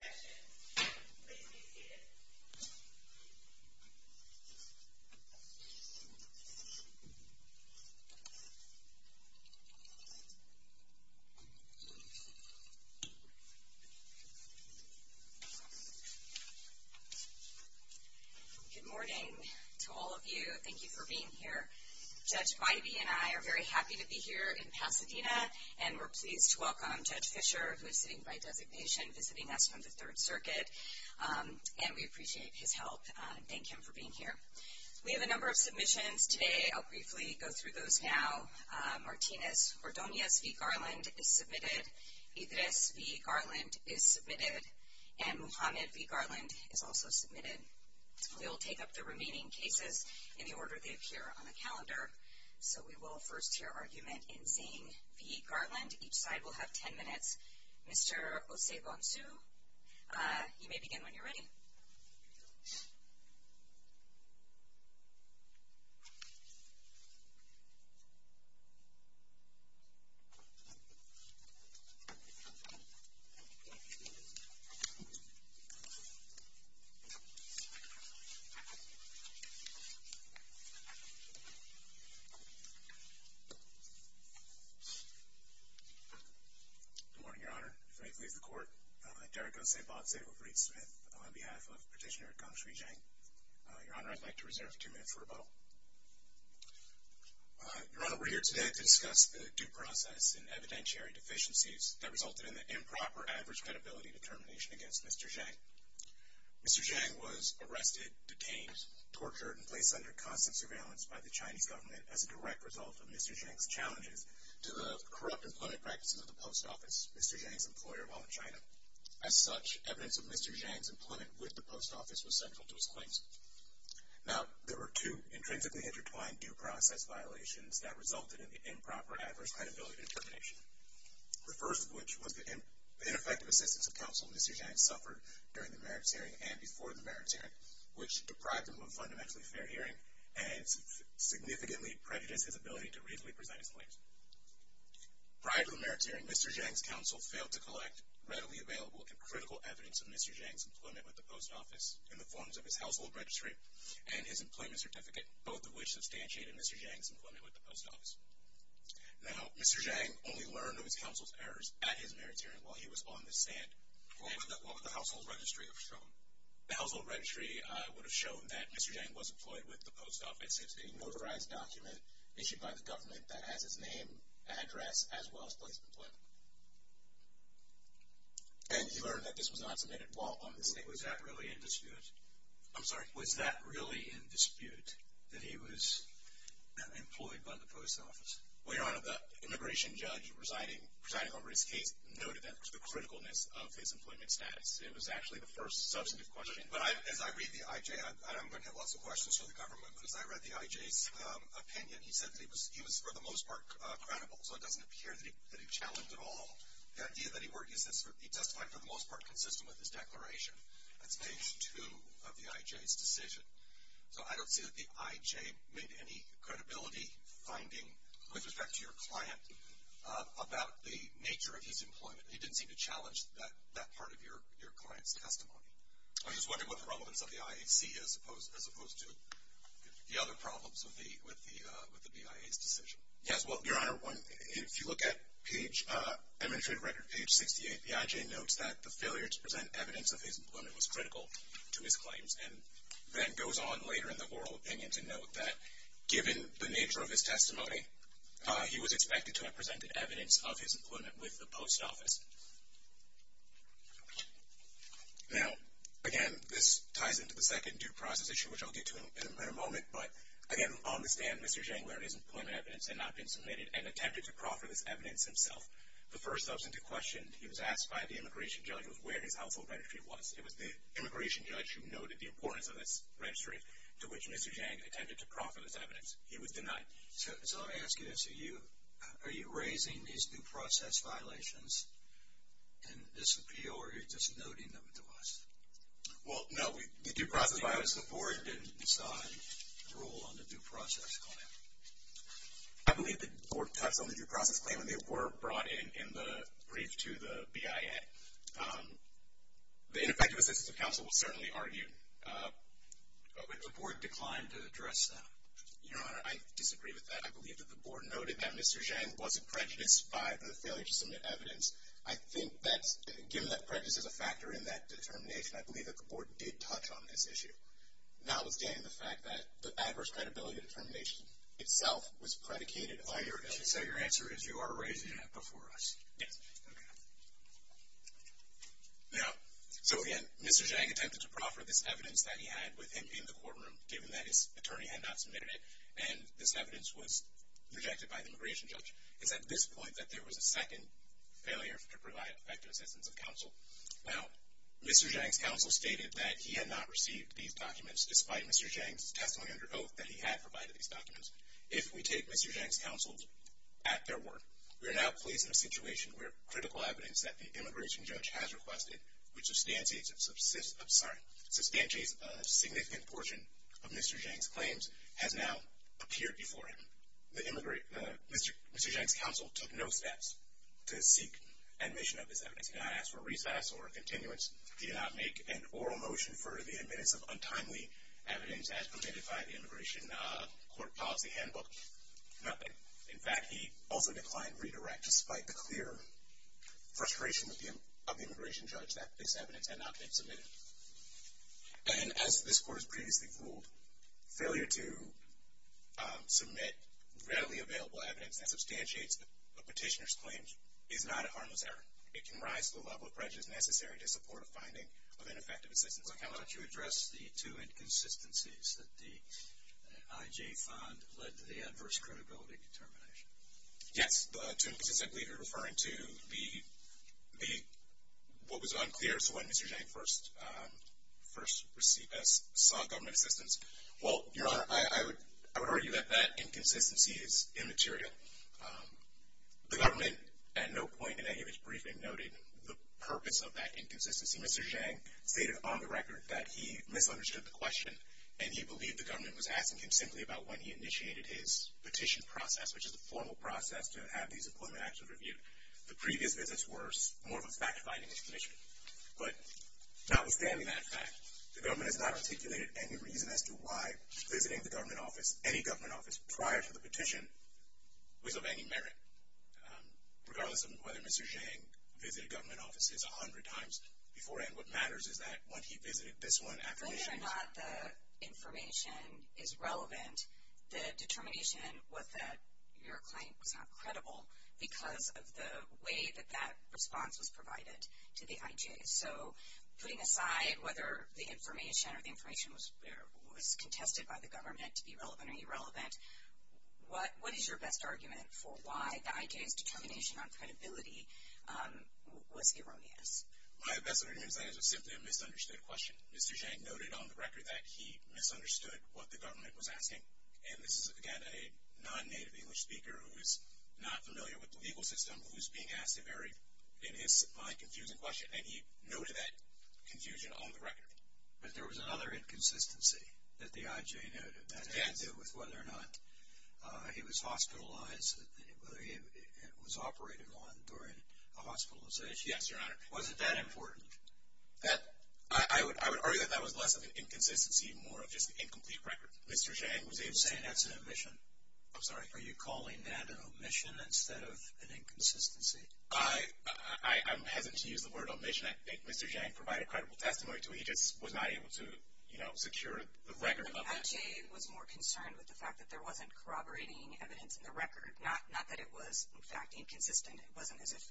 Good morning to all of you. Thank you for being here. Judge Bybee and I are very happy to be here in Pasadena, and we're pleased to welcome Judge Fischer, who is sitting by the third circuit, and we appreciate his help. Thank him for being here. We have a number of submissions today. I'll briefly go through those now. Martinez Ordonez v. Garland is submitted. Idris v. Garland is submitted. And Muhammad v. Garland is also submitted. We'll take up the remaining cases in the order they appear on the calendar. So we will first hear argument in Zhang v. Garland. Each side will have 10 minutes. Mr. Osei-Bonsu, you may begin when you're ready. Good morning, Your Honor. If I may please the court. Derek Osei-Bonsu of Reed Smith on behalf of Petitioner Gangshui Zhang. Your Honor, I'd like to reserve two minutes for rebuttal. Your Honor, we're here today to discuss the due process and evidentiary deficiencies that resulted in the improper average credibility determination against Mr. Zhang. Mr. Zhang was arrested, detained, tortured, and placed under constant surveillance by the Chinese government as a direct result of Mr. Zhang's actions. Mr. Zhang's challenges to the corrupt employment practices of the post office, Mr. Zhang's employer while in China. As such, evidence of Mr. Zhang's employment with the post office was central to his claims. Now, there were two intrinsically intertwined due process violations that resulted in the improper adverse credibility determination. The first of which was the ineffective assistance of counsel Mr. Zhang suffered during the merits hearing and before the merits hearing, which deprived him of a fundamentally fair hearing and significantly prejudiced his ability to reasonably present himself before the court. Prior to the merits hearing, Mr. Zhang's counsel failed to collect readily available and critical evidence of Mr. Zhang's employment with the post office in the forms of his household registry and his employment certificate, both of which substantiated Mr. Zhang's employment with the post office. Now, Mr. Zhang only learned of his counsel's errors at his merits hearing while he was on the stand. What would the household registry have shown? The household registry would have shown that Mr. Zhang was employed with the post office. It's a notarized document issued by the government that has his name, address, as well as place of employment. And he learned that this was not submitted while on the stand. Was that really in dispute? I'm sorry. Was that really in dispute, that he was employed by the post office? Well, Your Honor, the immigration judge presiding over his case noted that to the criticalness of his employment status. It was actually the first substantive question. But as I read the IJ, and I'm going to have lots of questions from the government, but as I read the IJ's opinion, he said that he was for the most part credible. So it doesn't appear that he challenged at all. The idea that he testified for the most part consistent with his declaration. That's page two of the IJ's decision. So I don't see that the IJ made any credibility finding with respect to your client about the nature of his employment. He didn't seem to challenge that part of your client's testimony. I'm just wondering what the relevance of the IAC is as opposed to the other problems with the BIA's decision. Yes, well, Your Honor, if you look at page, administrative record page 68, the IJ notes that the failure to present evidence of his employment was critical to his claims. And then goes on later in the oral opinion to note that given the nature of his testimony, he was expected to have presented evidence of his employment with the post office. Now, again, this ties into the second due process issue, which I'll get to in a moment. But again, on the stand, Mr. Zhang learned his employment evidence had not been submitted and attempted to proffer this evidence himself. The first substantive question he was asked by the immigration judge was where his household registry was. It was the immigration judge who noted the importance of this registry, to which Mr. Zhang attempted to proffer this evidence. He was denied. So let me ask you this, are you raising these due process violations in this appeal or are you just noting them to us? Well, no, the due process violations, the board didn't decide to rule on the due process claim. I believe the board touched on the due process claim and they were brought in in the brief to the BIA. The ineffective assistance of counsel will certainly argue. But the board declined to address them. Your Honor, I disagree with that. I believe that the board noted that Mr. Zhang wasn't prejudiced by the failure to submit evidence. I think that given that prejudice is a factor in that determination, I believe that the board did touch on this issue. Notwithstanding the fact that the adverse credibility determination itself was predicated on your issue. So your answer is you are raising that before us? Yes. Now, so again, Mr. Zhang attempted to proffer this evidence that he had with him in the courtroom given that his attorney had not submitted it and this evidence was rejected by the immigration judge. It's at this point that there was a second failure to provide effective assistance of counsel. Now, Mr. Zhang's counsel stated that he had not received these documents despite Mr. Zhang's testimony under oath that he had provided these documents. If we take Mr. Zhang's counsel at their word, we are now placed in a situation where critical evidence that the immigration judge has requested, which substantiates a significant portion of Mr. Zhang's claims, has now appeared before him. Mr. Zhang's counsel took no steps to seek admission of this evidence. He did not ask for recess or continuance. He did not make an oral motion for the admittance of untimely evidence as provided by the immigration court policy handbook. Nothing. In fact, he also declined redirect despite the clear frustration of the immigration judge that this evidence had not been submitted. And as this court has previously ruled, failure to submit readily available evidence that substantiates a petitioner's claims is not a harmless error. It can rise to the level of prejudice necessary to support a finding of ineffective assistance of counsel. Why don't you address the two inconsistencies that the IJ fund led to the adverse credibility determination? Yes, the two inconsistencies I believe you're referring to be what was unclear when Mr. Zhang first saw government assistance. Well, Your Honor, I would argue that that inconsistency is immaterial. The government at no point in any of its briefing noted the purpose of that inconsistency. Mr. Zhang stated on the record that he misunderstood the question, and he believed the government was asking him simply about when he initiated his petition process, which is a formal process to have these employment acts reviewed. The previous visits were more of a fact-finding initiative. But notwithstanding that fact, the government has not articulated any reason as to why visiting the government office, any government office prior to the petition, was of any merit. Regardless of whether Mr. Zhang visited government offices a hundred times beforehand, what matters is that when he visited this one after the petition... Whether or not the information is relevant, the determination was that your claim was not credible because of the way that that response was provided to the IJ. So, putting aside whether the information or the information was contested by the government to be relevant or irrelevant, what is your best argument for why the IJ's determination on credibility was erroneous? My best argument is that it was simply a misunderstood question. Mr. Zhang noted on the record that he misunderstood what the government was asking. And this is, again, a non-native English speaker who is not familiar with the legal system who is being asked a very, in his mind, confusing question. And he noted that confusion on the record. But there was another inconsistency that the IJ noted that had to do with whether or not he was hospitalized, whether he was operated on during a hospitalization. Yes, Your Honor. Was it that important? I would argue that that was less of an inconsistency and more of just an incomplete record. Mr. Zhang was even saying that's an omission. I'm sorry. Are you calling that an omission instead of an inconsistency? I'm hesitant to use the word omission. I think Mr. Zhang provided credible testimony to it. He just was not able to secure the record of that. The IJ was more concerned with the fact that there wasn't corroborating evidence in the record. Not that it was, in fact, inconsistent. It wasn't as if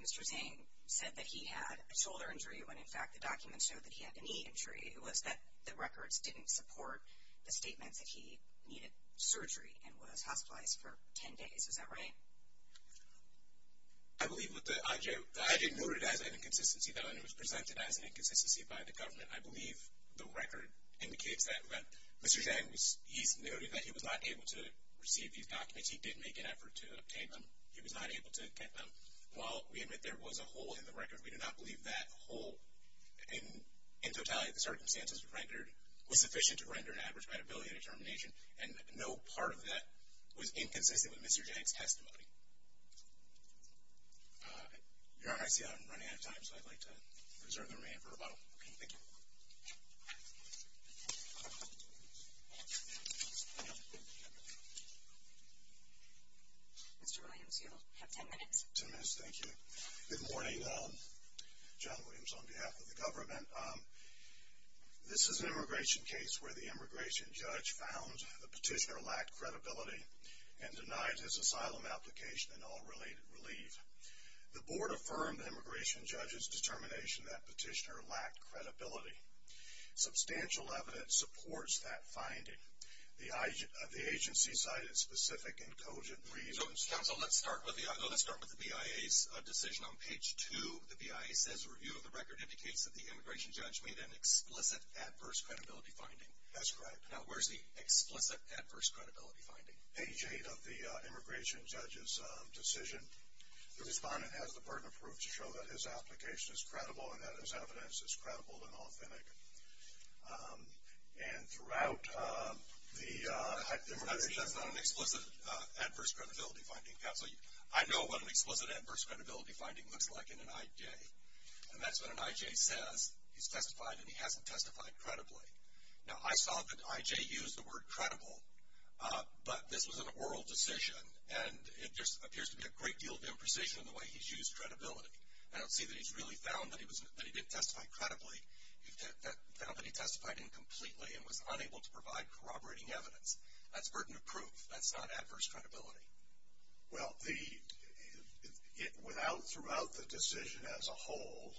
Mr. Zhang said that he had a shoulder injury when, in fact, the documents showed that he had a knee injury. It was that the records didn't support the statements that he needed surgery and was hospitalized for 10 days. Is that right? I believe what the IJ noted as an inconsistency, though, and it was presented as an inconsistency by the government, I believe the record indicates that Mr. Zhang, he's noted that he was not able to receive these documents. He did make an effort to obtain them. He was not able to get them. While we admit there was a hole in the record, we do not believe that hole, in totality, the circumstances were rendered, was sufficient to render an average liability determination, and no part of that was inconsistent with Mr. Zhang's testimony. Your Honor, I see I'm running out of time, so I'd like to reserve the remainder for rebuttal. Thank you. Mr. Williams, you'll have 10 minutes. 10 minutes, thank you. Good morning. John Williams on behalf of the government. This is an immigration case where the immigration judge found the petitioner lacked credibility and denied his asylum application and all related relief. The board affirmed the immigration judge's determination that the petitioner lacked credibility. Substantial evidence supports that finding. The agency cited specific and cogent reasons. Counsel, let's start with the BIA's decision on page 2. The BIA says a review of the record indicates that the immigration judge made an explicit adverse credibility finding. That's correct. Now, where's the explicit adverse credibility finding? Page 8 of the immigration judge's decision, the respondent has the burden of proof to show that his application is credible and that his evidence is credible and authentic. And throughout the immigration... Counsel, that's not an explicit adverse credibility finding. Counsel, I know what an explicit adverse credibility finding looks like in an IJ, and that's when an IJ says he's testified and he hasn't testified credibly. Now, I saw that IJ used the word credible, but this was an oral decision, and it just appears to be a great deal of imprecision in the way he's used credibility. I don't see that he's really found that he didn't testify credibly. He found that he testified incompletely and was unable to provide corroborating evidence. That's burden of proof. That's not adverse credibility. Well, throughout the decision as a whole,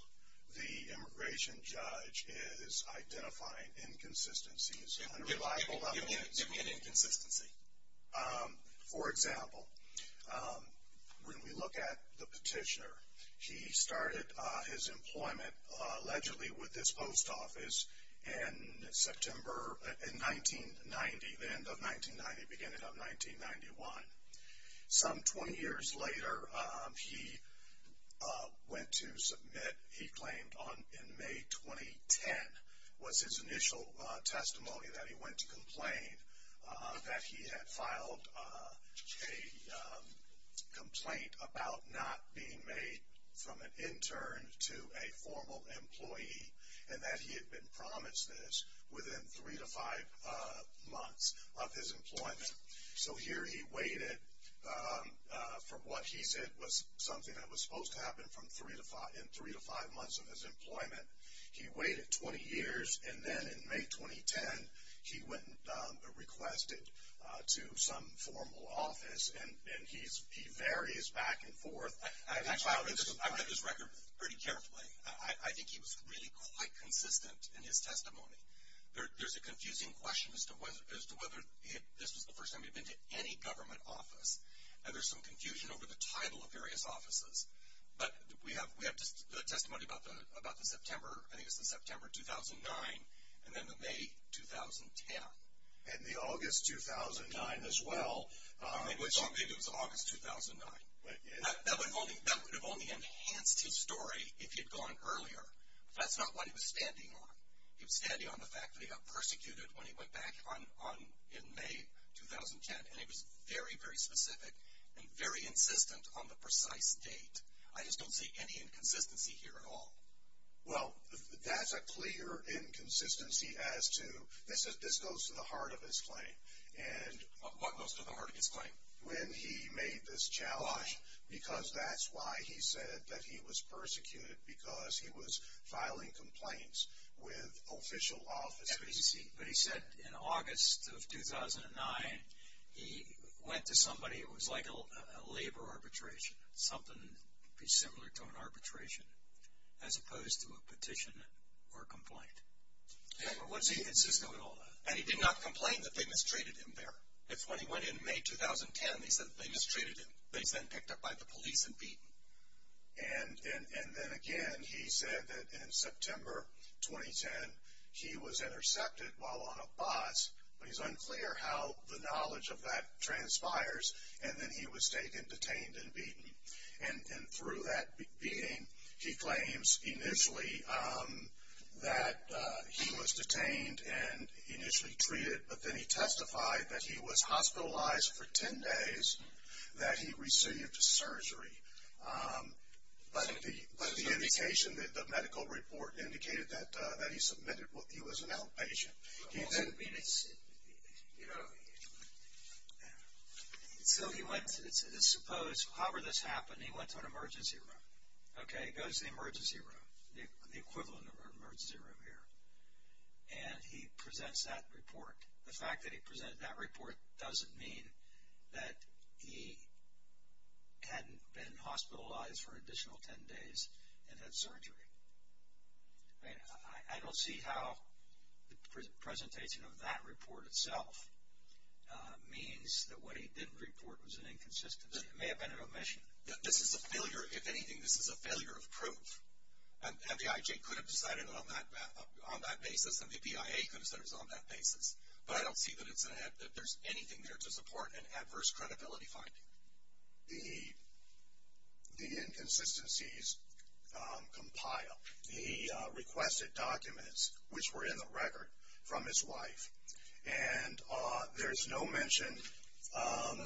the immigration judge is identifying inconsistencies on a reliable level. Give me an inconsistency. For example, when we look at the petitioner, he started his employment allegedly with this post office in September 1990, the end of 1990, beginning of 1991. Some 20 years later, he went to submit, he claimed in May 2010 was his initial testimony that he went to complain that he had filed a complaint about not being made from an intern to a formal employee and that he had been promised this within three to five months of his employment. So here he waited for what he said was something that was supposed to happen in three to five months of his employment. He waited 20 years, and then in May 2010, he went and requested to some formal office. And he varies back and forth. I read this record pretty carefully. I think he was really quite consistent in his testimony. There's a confusing question as to whether this was the first time he'd been to any government office. And there's some confusion over the title of various offices. But we have testimony about the September 2009 and then the May 2010. And the August 2009 as well. Maybe it was August 2009. That would have only enhanced his story if he had gone earlier. But that's not what he was standing on. He was standing on the fact that he got persecuted when he went back in May 2010. And he was very, very specific and very insistent on the precise date. I just don't see any inconsistency here at all. Well, that's a clear inconsistency as to this goes to the heart of his claim. What goes to the heart of his claim? When he made this challenge. Why? Because that's why he said that he was persecuted, because he was filing complaints with official offices. That's what he said. But he said in August of 2009, he went to somebody. It was like a labor arbitration. Something similar to an arbitration as opposed to a petition or a complaint. What does he insist on with all that? And he did not complain that they mistreated him there. It's when he went in May 2010, he said that they mistreated him. That he was then picked up by the police and beaten. And then again, he said that in September 2010, he was intercepted while on a bus. But it's unclear how the knowledge of that transpires. And then he was taken, detained, and beaten. And through that beating, he claims initially that he was detained and initially treated. But then he testified that he was hospitalized for ten days. That he received surgery. But the indication, the medical report indicated that he was an outpatient. So he went, suppose, however this happened, he went to an emergency room. Okay, he goes to the emergency room. The equivalent of an emergency room here. And he presents that report. The fact that he presented that report doesn't mean that he hadn't been hospitalized for an additional ten days and had surgery. I don't see how the presentation of that report itself means that what he didn't report was an inconsistency. It may have been an omission. This is a failure, if anything, this is a failure of proof. And the IJ could have decided on that basis and the PIA could have said it was on that basis. But I don't see that there's anything there to support an adverse credibility finding. The inconsistencies compile. He requested documents which were in the record from his wife. And there's no mention.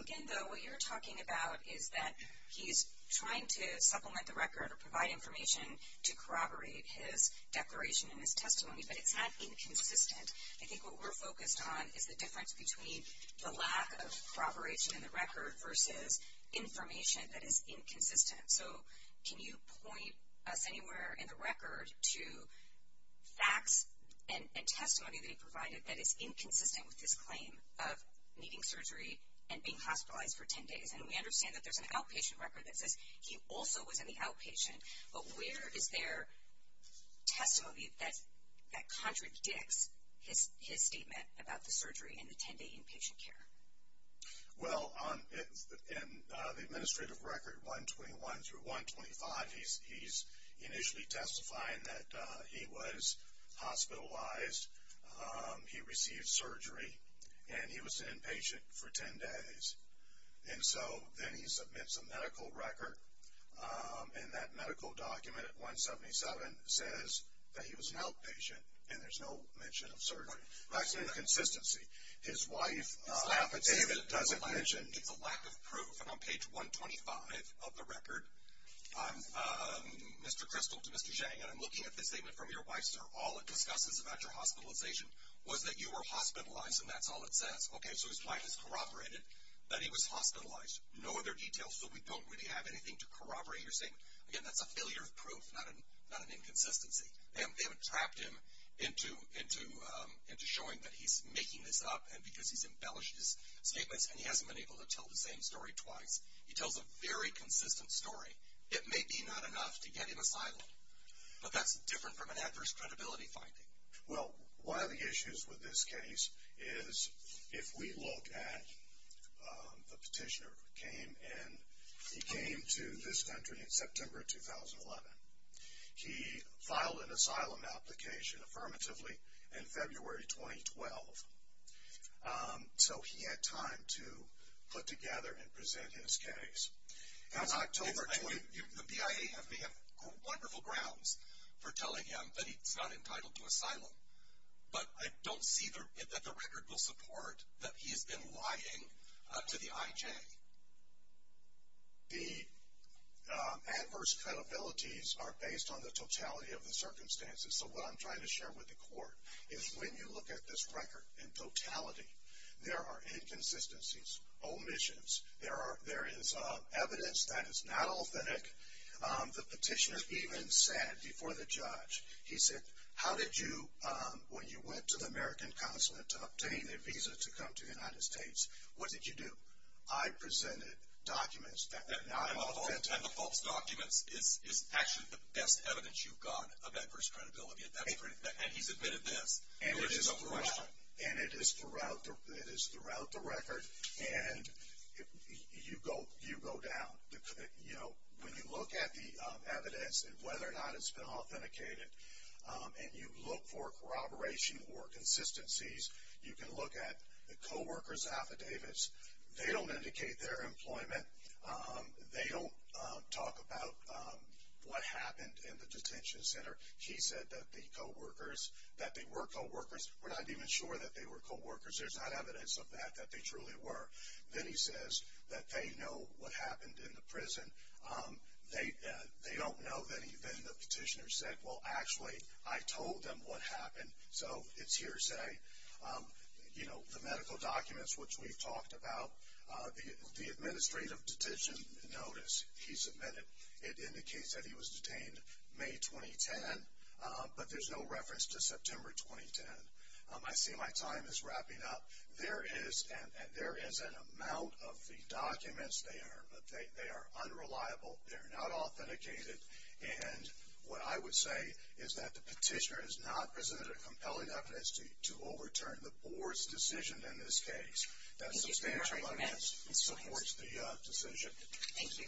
Again, though, what you're talking about is that he's trying to supplement the record or provide information to corroborate his declaration and his testimony. But it's not inconsistent. I think what we're focused on is the difference between the lack of corroboration in the record versus information that is inconsistent. So can you point us anywhere in the record to facts and testimony that he provided that is inconsistent with his claim of needing surgery and being hospitalized for ten days? And we understand that there's an outpatient record that says he also was in the outpatient. But where is there testimony that contradicts his statement about the surgery and the ten-day inpatient care? Well, in the administrative record 121 through 125, he's initially testifying that he was hospitalized. He received surgery. And he was an inpatient for ten days. And so then he submits a medical record. And that medical document at 177 says that he was an outpatient. And there's no mention of surgery. Facts and inconsistency. His wife, David, doesn't mention. It's a lack of proof. And on page 125 of the record, Mr. Kristol to Mr. Zhang, and I'm looking at this statement from your wife, sir, all it discusses about your hospitalization was that you were hospitalized, and that's all it says. Okay, so his wife has corroborated that he was hospitalized. No other details, so we don't really have anything to corroborate your statement. Again, that's a failure of proof, not an inconsistency. They haven't trapped him into showing that he's making this up because he's embellished his statements, and he hasn't been able to tell the same story twice. He tells a very consistent story. It may be not enough to get him asylum, but that's different from an adverse credibility finding. Well, one of the issues with this case is if we look at the petitioner who came to this country in September 2011. He filed an asylum application affirmatively in February 2012. So he had time to put together and present his case. The BIA may have wonderful grounds for telling him that he's not entitled to asylum, but I don't see that the record will support that he's been lying to the IJ. The adverse credibilities are based on the totality of the circumstances, so what I'm trying to share with the court is when you look at this record in totality, there are inconsistencies, omissions. There is evidence that is not authentic. The petitioner even said before the judge, he said, how did you, when you went to the American consulate to obtain a visa to come to the United States, what did you do? I presented documents that are not authentic. And the false documents is actually the best evidence you've got of adverse credibility, and he's admitted this. And it is throughout the record, and you go down. When you look at the evidence and whether or not it's been authenticated, and you look for corroboration or consistencies, you can look at the coworkers' affidavits. They don't indicate their employment. They don't talk about what happened in the detention center. He said that the coworkers, that they were coworkers. We're not even sure that they were coworkers. There's not evidence of that, that they truly were. Then he says that they know what happened in the prison. They don't know that even the petitioner said, well, actually, I told them what happened. So it's hearsay. You know, the medical documents, which we've talked about. The administrative detention notice, he submitted, it indicates that he was detained May 2010. But there's no reference to September 2010. I see my time is wrapping up. There is an amount of the documents there, but they are unreliable. They're not authenticated. And what I would say is that the petitioner has not presented a compelling evidence to overturn the board's decision in this case. That's substantial evidence. It supports the decision. Thank you.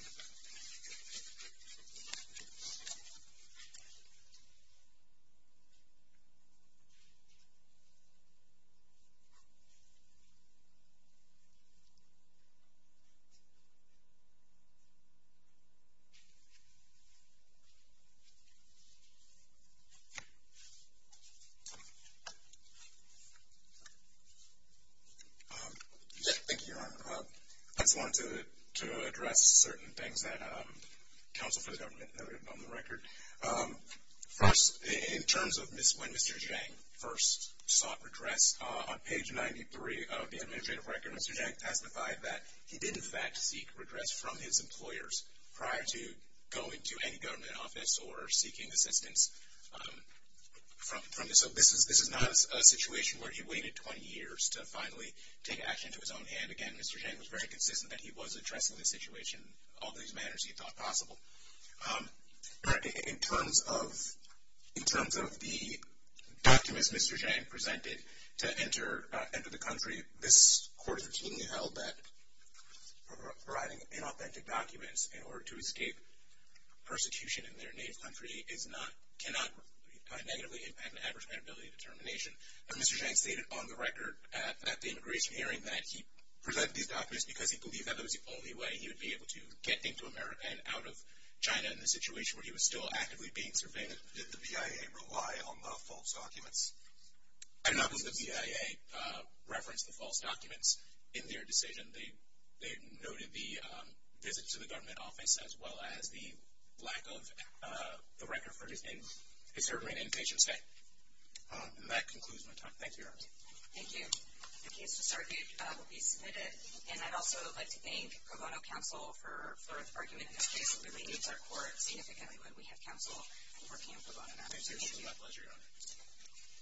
I just wanted to address certain things that counsel for the government noted on the record. First, in terms of when Mr. Zhang first sought redress, on page 93 of the administrative record, Mr. Zhang testified that he did, in fact, seek redress from his employers prior to going to any government office or seeking assistance from them. So this is not a situation where he waited 20 years to finally take action to his own hand. Again, Mr. Zhang was very consistent that he was addressing the situation in all these manners he thought possible. In terms of the documents Mr. Zhang presented to enter the country, this court has routinely held that providing inauthentic documents in order to escape persecution in their native country cannot negatively impact an adverse credibility determination. Now, Mr. Zhang stated on the record at the immigration hearing that he presented these documents because he believed that was the only way he would be able to get into America and out of China in a situation where he was still actively being surveilled. Did the VIA rely on the false documents? I do not believe the VIA referenced the false documents in their decision. They noted the visit to the government office as well as the lack of the record for his name. Is there any indication of state? And that concludes my time. Thank you, Your Honor. Thank you. The case to submit will be submitted. And I'd also like to thank Pro Bono counsel for arguing this case. It really means our court significantly when we have counsel working in Pro Bono matters. Thank you. It was my pleasure, Your Honor.